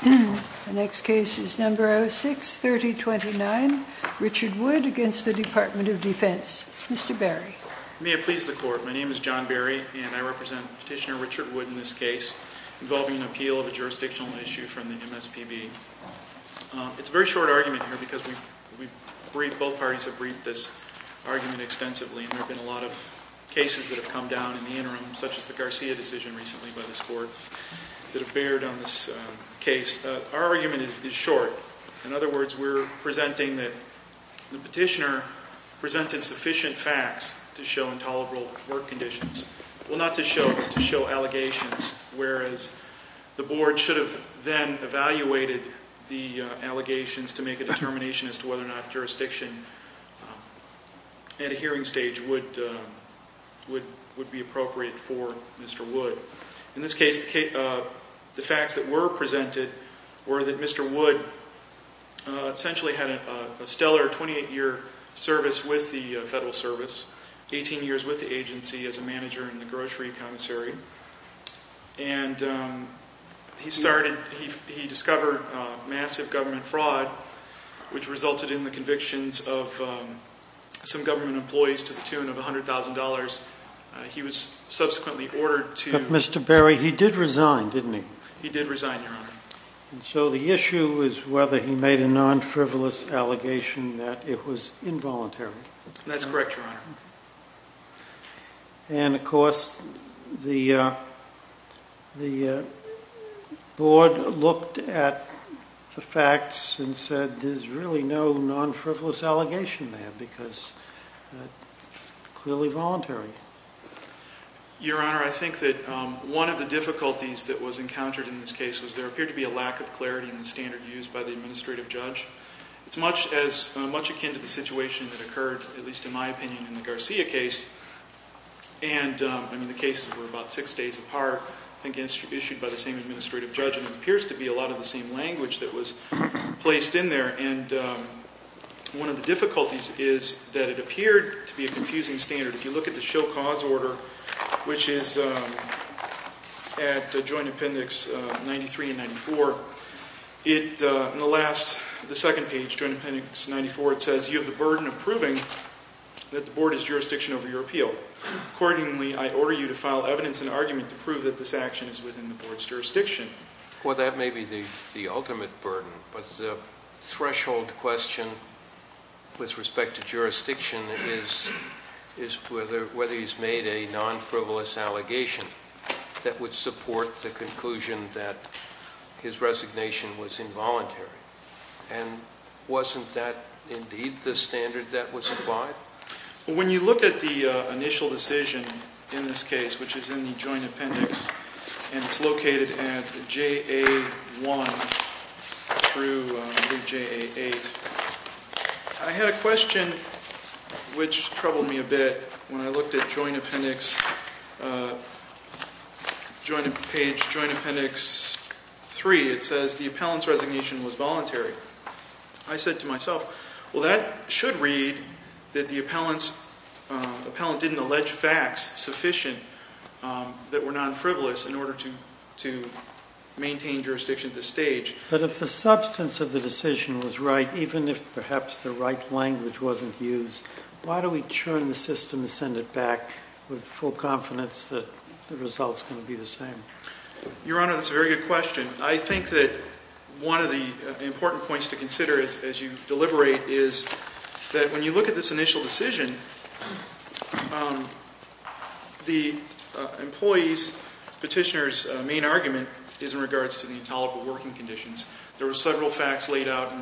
The next case is number 06-3029, Richard Wood against the Department of Defense. Mr. Berry. May it please the Court, my name is John Berry and I represent Petitioner Richard Wood in this case involving an appeal of a jurisdictional issue from the MSPB. It's a very short argument here because both parties have briefed this argument extensively and there have been a lot of cases that have come down in the interim, such as the Garcia decision recently by this Court, that have bared on this case. Our argument is short. In other words, we're presenting that the petitioner presented sufficient facts to show intolerable work conditions. Well, not to show, but to show allegations, whereas the Board should have then evaluated the allegations to make a determination as to whether or not jurisdiction at a hearing stage would be appropriate for Mr. Wood. In this case, the facts that were presented were that Mr. Wood essentially had a stellar 28-year service with the Federal Service, 18 years with the agency as a manager in the grocery commissary, and he discovered massive government fraud, which resulted in the convictions of some government employees to the tune of $100,000. He was subsequently ordered to... But Mr. Berry, he did resign, didn't he? He did resign, Your Honor. So the issue is whether he made a non-frivolous allegation that it was involuntary. That's correct, Your Honor. And, of course, the Board looked at the facts and said there's really no non-frivolous allegation there because it's clearly voluntary. Your Honor, I think that one of the difficulties that was encountered in this case was there appeared to be a lack of clarity in the standard used by the administrative judge. It's much akin to the situation that occurred, at least in my opinion, in the Garcia case. And, I mean, the cases were about six days apart, I think issued by the same administrative judge, and it appears to be a lot of the same language that was placed in there. And one of the difficulties is that it appeared to be a confusing standard. If you look at the show cause order, which is at Joint Appendix 93 and 94, in the last, the second page, Joint Appendix 94, it says, you have the burden of proving that the Board is jurisdiction over your appeal. Accordingly, I order you to file evidence and argument to prove that this action is within the Board's jurisdiction. Well, that may be the ultimate burden, but the threshold question with respect to jurisdiction is whether he's made a non-frivolous allegation that would support the conclusion that his resignation was involuntary. And wasn't that, indeed, the standard that was applied? When you look at the initial decision in this case, which is in the Joint Appendix, and it's located at JA1 through JA8, when I looked at Joint Appendix, page Joint Appendix 3, it says the appellant's resignation was voluntary. I said to myself, well, that should read that the appellant didn't allege facts sufficient that were non-frivolous in order to maintain jurisdiction at this stage. But if the substance of the decision was right, even if perhaps the right language wasn't used, why do we churn the system and send it back with full confidence that the result's going to be the same? Your Honor, that's a very good question. I think that one of the important points to consider as you deliberate is that when you look at this initial decision, the employee's petitioner's main argument is in regards to the intolerable working conditions. There were several facts laid out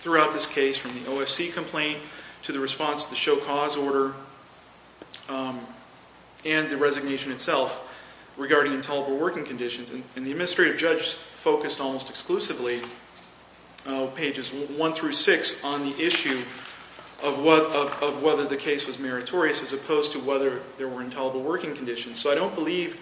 throughout this case from the OFC complaint to the response to the show cause order and the resignation itself regarding intolerable working conditions. And the administrative judge focused almost exclusively, pages 1 through 6, on the issue of whether the case was meritorious as opposed to whether there were intolerable working conditions. So I don't believe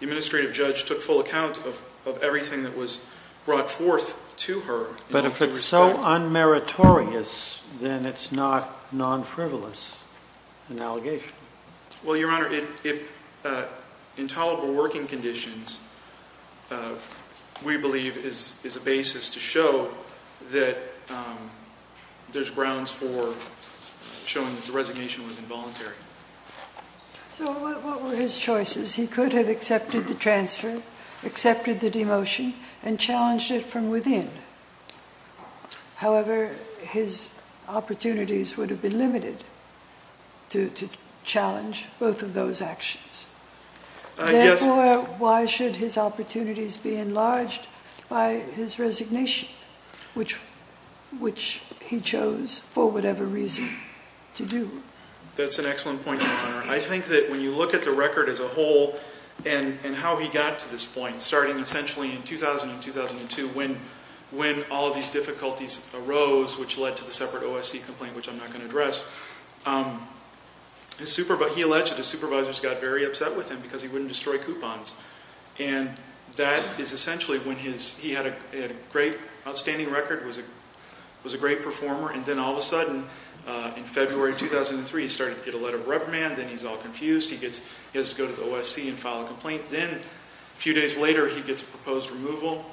the administrative judge took full account of everything that was brought forth to her. But if it's so unmeritorious, then it's not non-frivolous an allegation. Well, Your Honor, intolerable working conditions, we believe, is a basis to show that there's grounds for showing that the resignation was involuntary. So what were his choices? He could have accepted the transfer, accepted the demotion, and challenged it from within. However, his opportunities would have been limited to challenge both of those actions. Therefore, why should his opportunities be enlarged by his resignation, which he chose for whatever reason to do? That's an excellent point, Your Honor. I think that when you look at the record as a whole and how he got to this point, starting essentially in 2000 and 2002 when all of these difficulties arose, which led to the separate OFC complaint, which I'm not going to address, he alleged his supervisors got very upset with him because he wouldn't destroy coupons. And that is essentially when he had a great, outstanding record, was a great performer, and then all of a sudden in February of 2003 he started to get a letter of reprimand. Then he's all confused. He has to go to the OSC and file a complaint. Then a few days later he gets a proposed removal.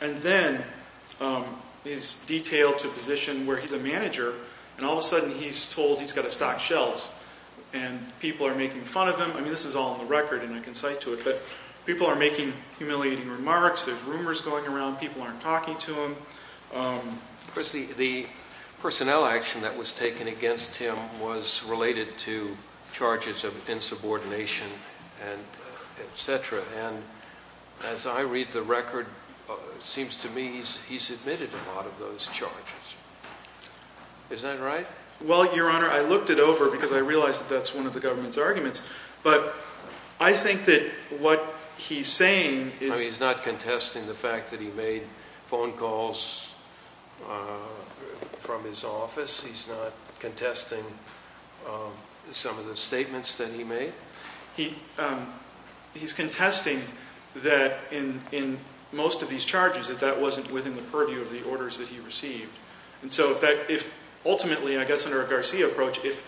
And then he's detailed to a position where he's a manager, and all of a sudden he's told he's got to stock shelves. And people are making fun of him. I mean, this is all in the record, and I can cite to it. But people are making humiliating remarks. There's rumors going around. People aren't talking to him. Of course, the personnel action that was taken against him was related to charges of insubordination, et cetera. And as I read the record, it seems to me he's admitted a lot of those charges. Isn't that right? Well, Your Honor, I looked it over because I realized that that's one of the government's arguments. But I think that what he's saying is— Is it correct that he made phone calls from his office? He's not contesting some of the statements that he made? He's contesting that in most of these charges that that wasn't within the purview of the orders that he received. And so if ultimately, I guess under a Garcia approach, if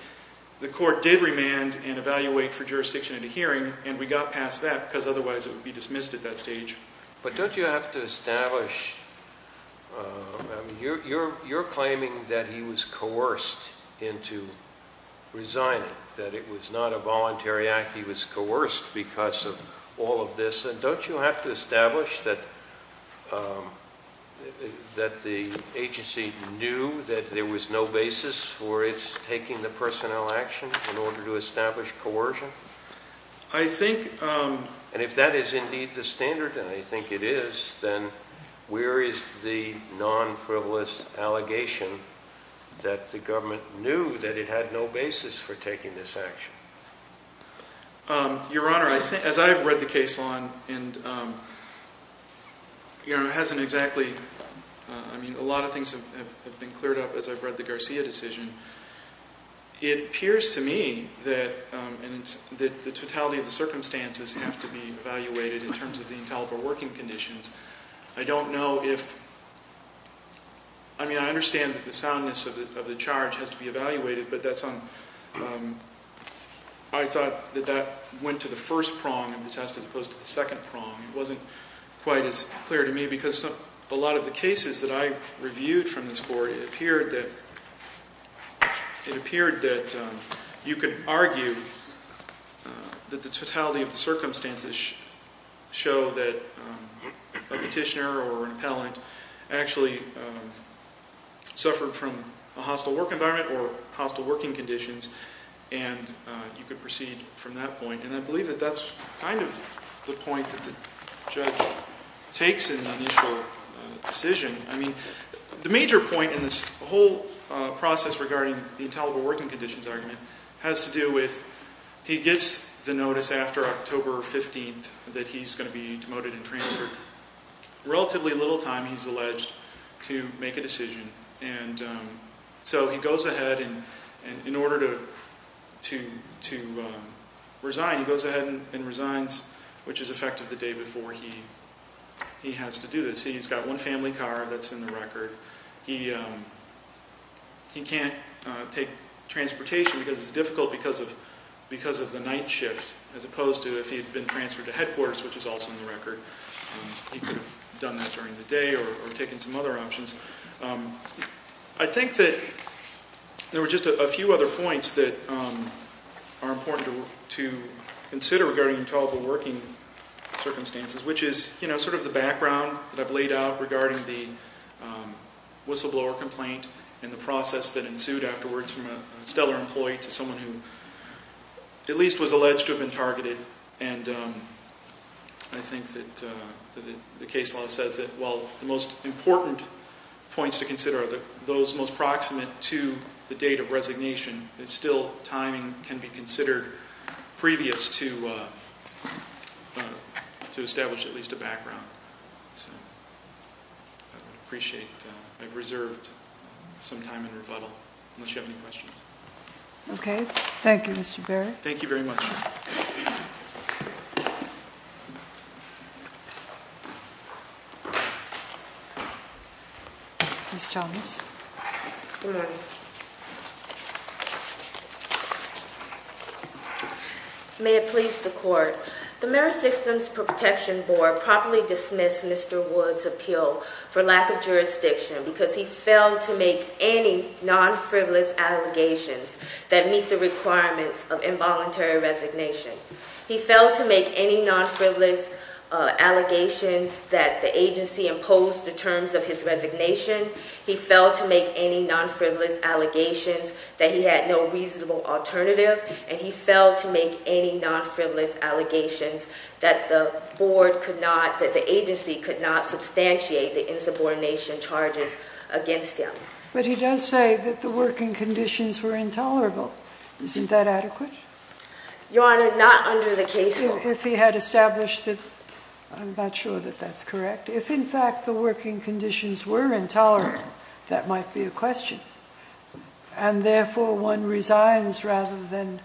the court did remand and evaluate for jurisdiction in a hearing, and we got past that because otherwise it would be dismissed at that stage. But don't you have to establish—you're claiming that he was coerced into resigning, that it was not a voluntary act. He was coerced because of all of this. And don't you have to establish that the agency knew that there was no basis for its taking the personnel action in order to establish coercion? I think— And if that is indeed the standard, and I think it is, then where is the non-frivolous allegation that the government knew that it had no basis for taking this action? Your Honor, as I've read the case law, and it hasn't exactly—I mean, a lot of things have been cleared up as I've read the Garcia decision. It appears to me that the totality of the circumstances have to be evaluated in terms of the intelligible working conditions. I don't know if—I mean, I understand that the soundness of the charge has to be evaluated, but that's on—I thought that that went to the first prong of the test as opposed to the second prong. It wasn't quite as clear to me because a lot of the cases that I've reviewed from this Court, it appeared that you could argue that the totality of the circumstances show that a petitioner or an appellant actually suffered from a hostile work environment or hostile working conditions, and you could proceed from that point. And I believe that that's kind of the point that the judge takes in the initial decision. I mean, the major point in this whole process regarding the intelligible working conditions argument has to do with he gets the notice after October 15th that he's going to be demoted and transferred. Relatively little time, he's alleged, to make a decision, and so he goes ahead and in order to resign, he goes ahead and resigns, which is effective the day before he has to do this. As you can see, he's got one family car that's in the record. He can't take transportation because it's difficult because of the night shift as opposed to if he had been transferred to headquarters, which is also in the record. He could have done that during the day or taken some other options. I think that there were just a few other points that are important to consider regarding intelligible working circumstances, which is sort of the background that I've laid out regarding the whistleblower complaint and the process that ensued afterwards from a stellar employee to someone who at least was alleged to have been targeted. And I think that the case law says that while the most important points to consider are those most proximate to the date of resignation, that still timing can be considered previous to establish at least a background. So I would appreciate, I've reserved some time in rebuttal, unless you have any questions. Okay. Thank you, Mr. Barrett. Thank you very much. Ms. Thomas. Good morning. May it please the court. The Merit Systems Protection Board properly dismissed Mr. Woods' appeal for lack of jurisdiction because he failed to make any non-frivolous allegations that meet the requirements of involuntary resignation. He failed to make any non-frivolous allegations that the agency imposed the terms of his resignation. He failed to make any non-frivolous allegations that he had no reasonable alternative. And he failed to make any non-frivolous allegations that the agency could not substantiate the insubordination charges against him. But he does say that the working conditions were intolerable. Isn't that adequate? Your Honor, not under the case law. If he had established that, I'm not sure that that's correct. If, in fact, the working conditions were intolerable, that might be a question. And, therefore, one resigns rather than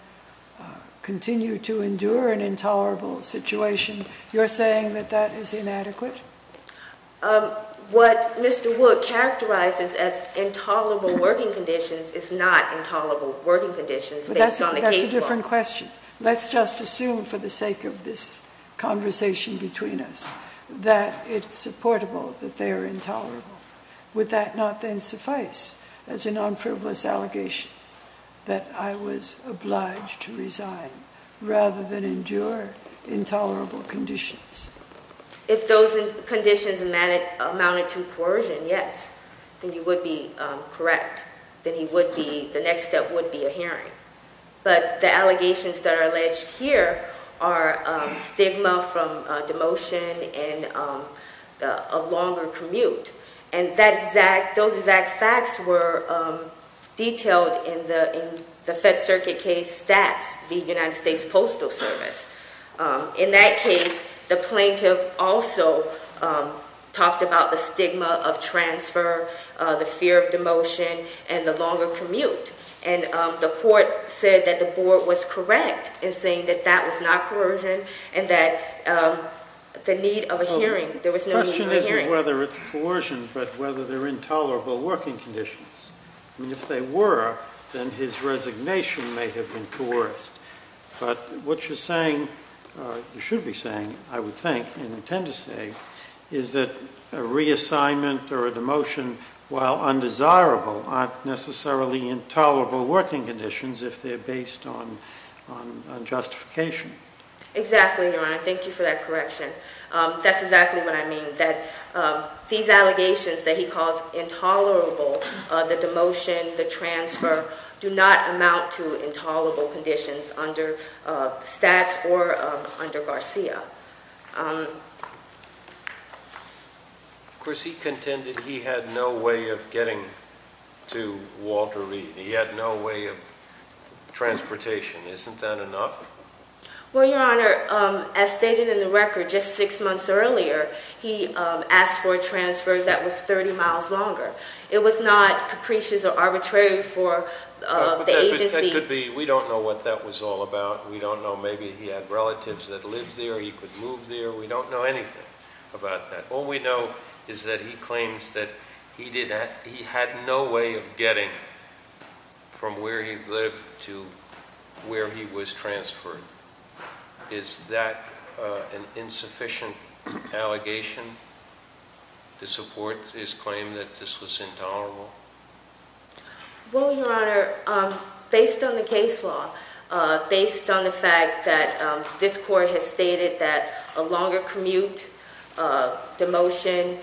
continue to endure an intolerable situation. You're saying that that is inadequate? What Mr. Wood characterizes as intolerable working conditions is not intolerable working conditions based on the case law. That's a different question. Let's just assume for the sake of this conversation between us that it's supportable that they are intolerable. Would that not then suffice as a non-frivolous allegation that I was obliged to resign rather than endure intolerable conditions? If those conditions amounted to coercion, yes, then you would be correct. Then he would be—the next step would be a hearing. But the allegations that are alleged here are stigma from demotion and a longer commute. And those exact facts were detailed in the Fed Circuit case stats, the United States Postal Service. In that case, the plaintiff also talked about the stigma of transfer, the fear of demotion, and the longer commute. And the court said that the board was correct in saying that that was not coercion and that the need of a hearing— The question isn't whether it's coercion but whether they're intolerable working conditions. I mean, if they were, then his resignation may have been coerced. But what you're saying—you should be saying, I would think, and intend to say— is that a reassignment or a demotion, while undesirable, aren't necessarily intolerable working conditions if they're based on justification. Exactly, Your Honor. Thank you for that correction. That's exactly what I mean, that these allegations that he calls intolerable—the demotion, the transfer— do not amount to intolerable conditions under stats or under Garcia. Of course, he contended he had no way of getting to Walter Reed. He had no way of transportation. Isn't that enough? Well, Your Honor, as stated in the record just six months earlier, he asked for a transfer that was 30 miles longer. It was not capricious or arbitrary for the agency— That could be—we don't know what that was all about. We don't know. Maybe he had relatives that lived there or he could move there. We don't know anything about that. All we know is that he claims that he had no way of getting from where he lived to where he was transferred. Is that an insufficient allegation to support his claim that this was intolerable? Well, Your Honor, based on the case law, based on the fact that this court has stated that a longer commute, demotion,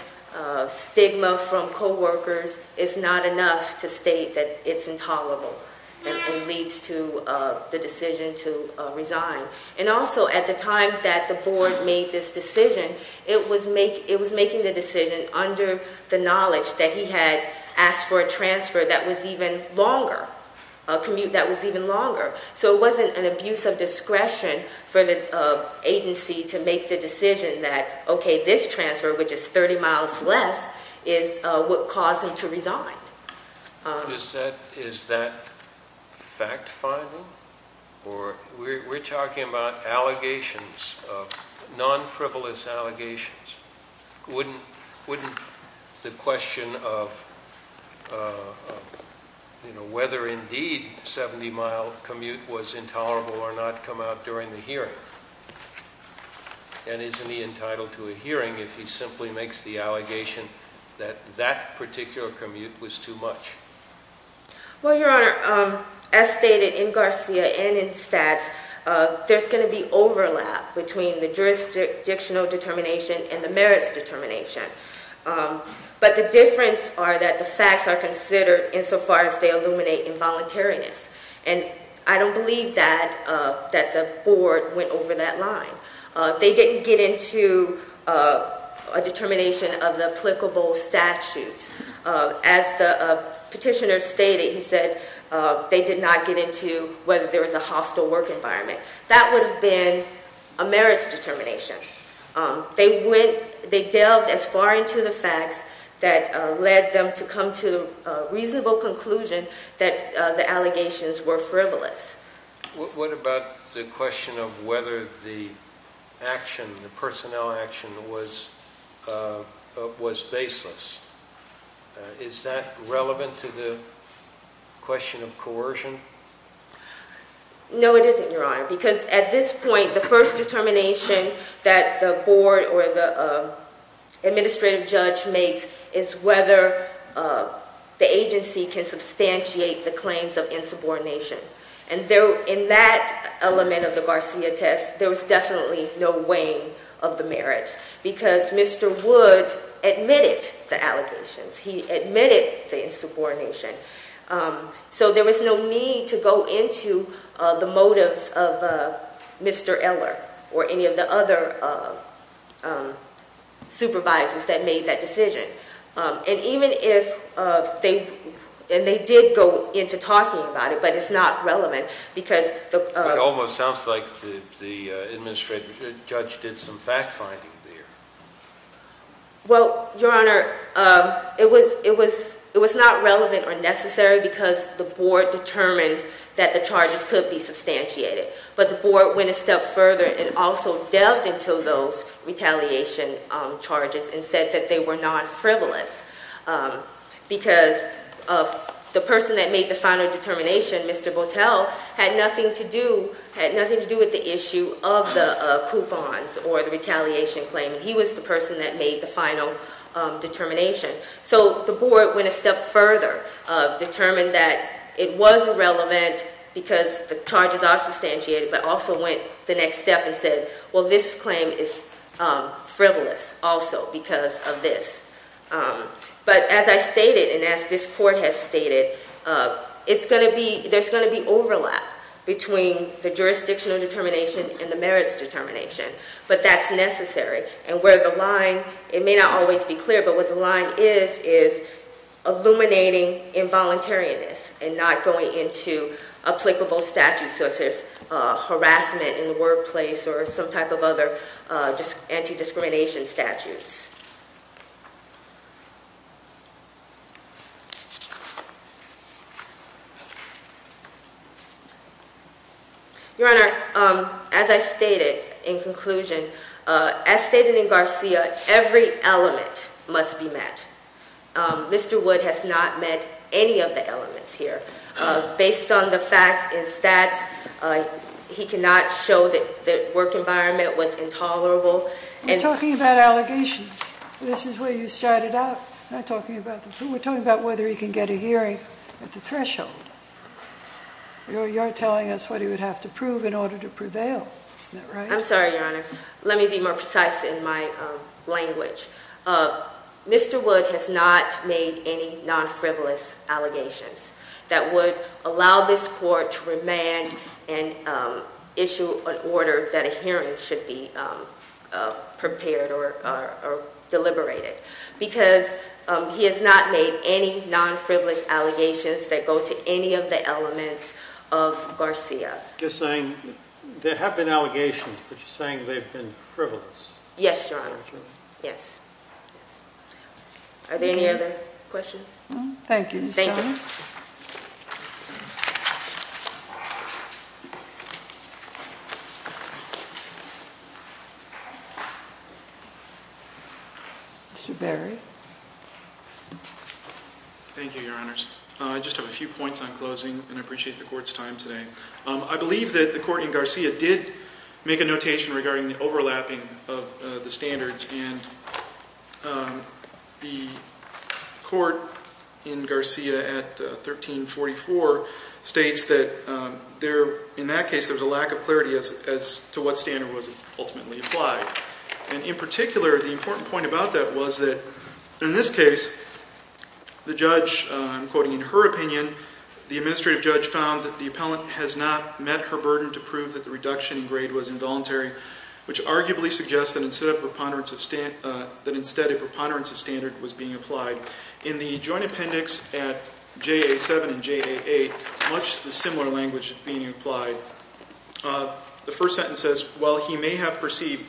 stigma from co-workers is not enough to state that it's intolerable and leads to the decision to resign. And also, at the time that the board made this decision, it was making the decision under the knowledge that he had asked for a transfer that was even longer, a commute that was even longer. So it wasn't an abuse of discretion for the agency to make the decision that, okay, this transfer, which is 30 miles less, is what caused him to resign. Is that fact-finding? We're talking about allegations, non-frivolous allegations. Wouldn't the question of whether, indeed, a 70-mile commute was intolerable or not come out during the hearing? And isn't he entitled to a hearing if he simply makes the allegation that that particular commute was too much? Well, Your Honor, as stated in Garcia and in Statz, there's going to be overlap between the jurisdictional determination and the merits determination. But the difference are that the facts are considered insofar as they illuminate involuntariness. And I don't believe that the board went over that line. They didn't get into a determination of the applicable statutes. As the petitioner stated, he said they did not get into whether there was a hostile work environment. That would have been a merits determination. They went, they delved as far into the facts that led them to come to a reasonable conclusion that the allegations were frivolous. What about the question of whether the action, the personnel action, was baseless? Is that relevant to the question of coercion? No, it isn't, Your Honor, because at this point, the first determination that the board or the administrative judge makes is whether the agency can substantiate the claims of insubordination. And in that element of the Garcia test, there was definitely no weighing of the merits because Mr. Wood admitted the allegations. He admitted the insubordination. So there was no need to go into the motives of Mr. Eller or any of the other supervisors that made that decision. And even if they, and they did go into talking about it, but it's not relevant because the- It almost sounds like the administrative judge did some fact-finding there. Well, Your Honor, it was not relevant or necessary because the board determined that the charges could be substantiated. But the board went a step further and also delved into those retaliation charges and said that they were non-frivolous. Because the person that made the final determination, Mr. Botel, had nothing to do with the issue of the coupons or the retaliation claim. He was the person that made the final determination. So the board went a step further, determined that it was irrelevant because the charges are substantiated, but also went the next step and said, well, this claim is frivolous also because of this. But as I stated and as this court has stated, it's going to be- There's going to be overlap between the jurisdictional determination and the merits determination. But that's necessary. And where the line- It may not always be clear, but where the line is, is illuminating involuntariness and not going into applicable statutes such as harassment in the workplace or some type of other anti-discrimination statutes. Your Honor, as I stated in conclusion, as stated in Garcia, every element must be met. Mr. Wood has not met any of the elements here. Based on the facts and stats, he cannot show that the work environment was intolerable. We're talking about allegations. This is where you started out. We're talking about whether he can get a hearing at the threshold. You're telling us what he would have to prove in order to prevail. Isn't that right? I'm sorry, Your Honor. Let me be more precise in my language. Mr. Wood has not made any non-frivolous allegations that would allow this court to remand and issue an order that a hearing should be prepared or deliberated. Because he has not made any non-frivolous allegations that go to any of the elements of Garcia. You're saying there have been allegations, but you're saying they've been frivolous. Yes, Your Honor. Yes. Are there any other questions? Thank you, Ms. Chavez. Mr. Berry. Thank you, Your Honors. I just have a few points on closing, and I appreciate the court's time today. I believe that the court in Garcia did make a notation regarding the overlapping of the standards. And the court in Garcia at 1344 states that in that case there was a lack of clarity as to what standard was ultimately applied. And in particular, the important point about that was that in this case, the judge, I'm quoting, in her opinion, the administrative judge found that the appellant has not met her burden to prove that the reduction in grade was involuntary, which arguably suggests that instead a preponderance of standard was being applied. In the joint appendix at JA7 and JA8, much the similar language is being applied. The first sentence says, While he may have perceived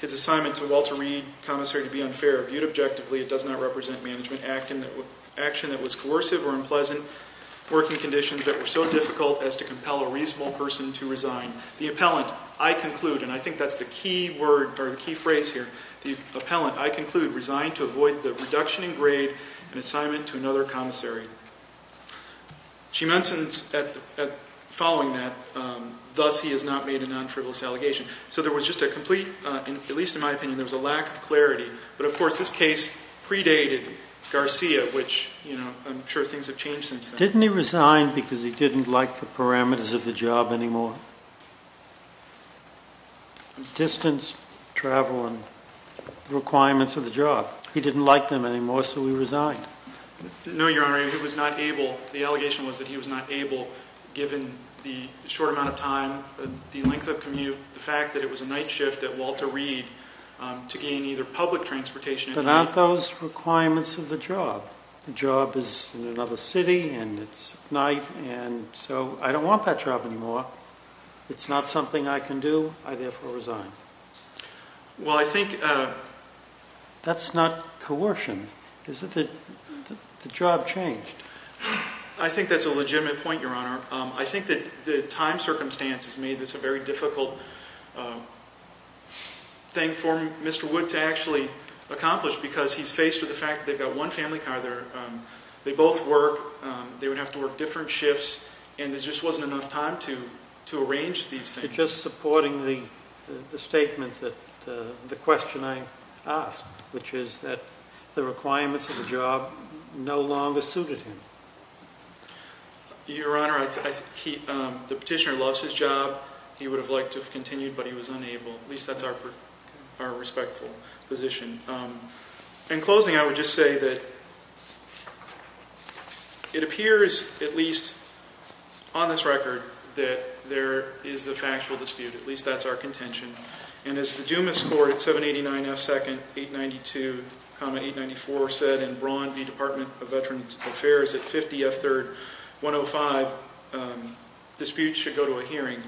his assignment to Walter Reed Commissary to be unfair, viewed objectively, it does not represent management action that was coercive or unpleasant, working conditions that were so difficult as to compel a reasonable person to resign. The appellant, I conclude, and I think that's the key phrase here, the appellant, I conclude, resigned to avoid the reduction in grade and assignment to another commissary. She mentions following that, thus he has not made a non-frivolous allegation. So there was just a complete, at least in my opinion, there was a lack of clarity. But, of course, this case predated Garcia, which I'm sure things have changed since then. Didn't he resign because he didn't like the parameters of the job anymore? Distance, travel, and requirements of the job. He didn't like them anymore, so he resigned. No, Your Honor, he was not able, the allegation was that he was not able, given the short amount of time, the length of commute, the fact that it was a night shift at Walter Reed to gain either public transportation. But aren't those requirements of the job? The job is in another city and it's night and so I don't want that job anymore. It's not something I can do, I therefore resign. Well, I think that's not coercion. Is it that the job changed? I think that's a legitimate point, Your Honor. I think that the time circumstances made this a very difficult thing for Mr. Wood to actually accomplish because he's faced with the fact that they've got one family car, they both work, they would have to work different shifts, and there just wasn't enough time to arrange these things. You're just supporting the statement, the question I asked, which is that the requirements of the job no longer suited him. Your Honor, the petitioner lost his job. He would have liked to have continued, but he was unable. At least that's our respectful position. In closing, I would just say that it appears, at least on this record, that there is a factual dispute. At least that's our contention. And as the Dumas Court at 789 F. 2nd, 892, 894 said, and Braun v. Department of Veterans Affairs at 50 F. 3rd, 105, disputes should go to a hearing.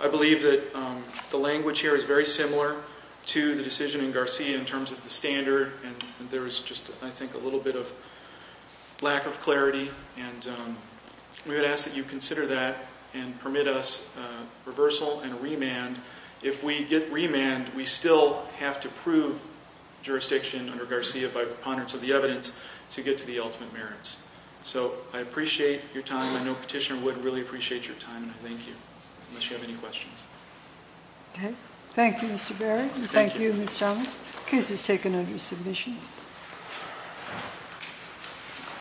I believe that the language here is very similar to the decision in Garcia in terms of the standard, and there is just, I think, a little bit of lack of clarity. And we would ask that you consider that and permit us a reversal and a remand. If we get remand, we still have to prove jurisdiction under Garcia by preponderance of the evidence to get to the ultimate merits. So I appreciate your time. I know Petitioner Wood would really appreciate your time, and I thank you. Unless you have any questions. Okay. Thank you, Mr. Berry. Thank you, Ms. Dumas. The case is taken under submission.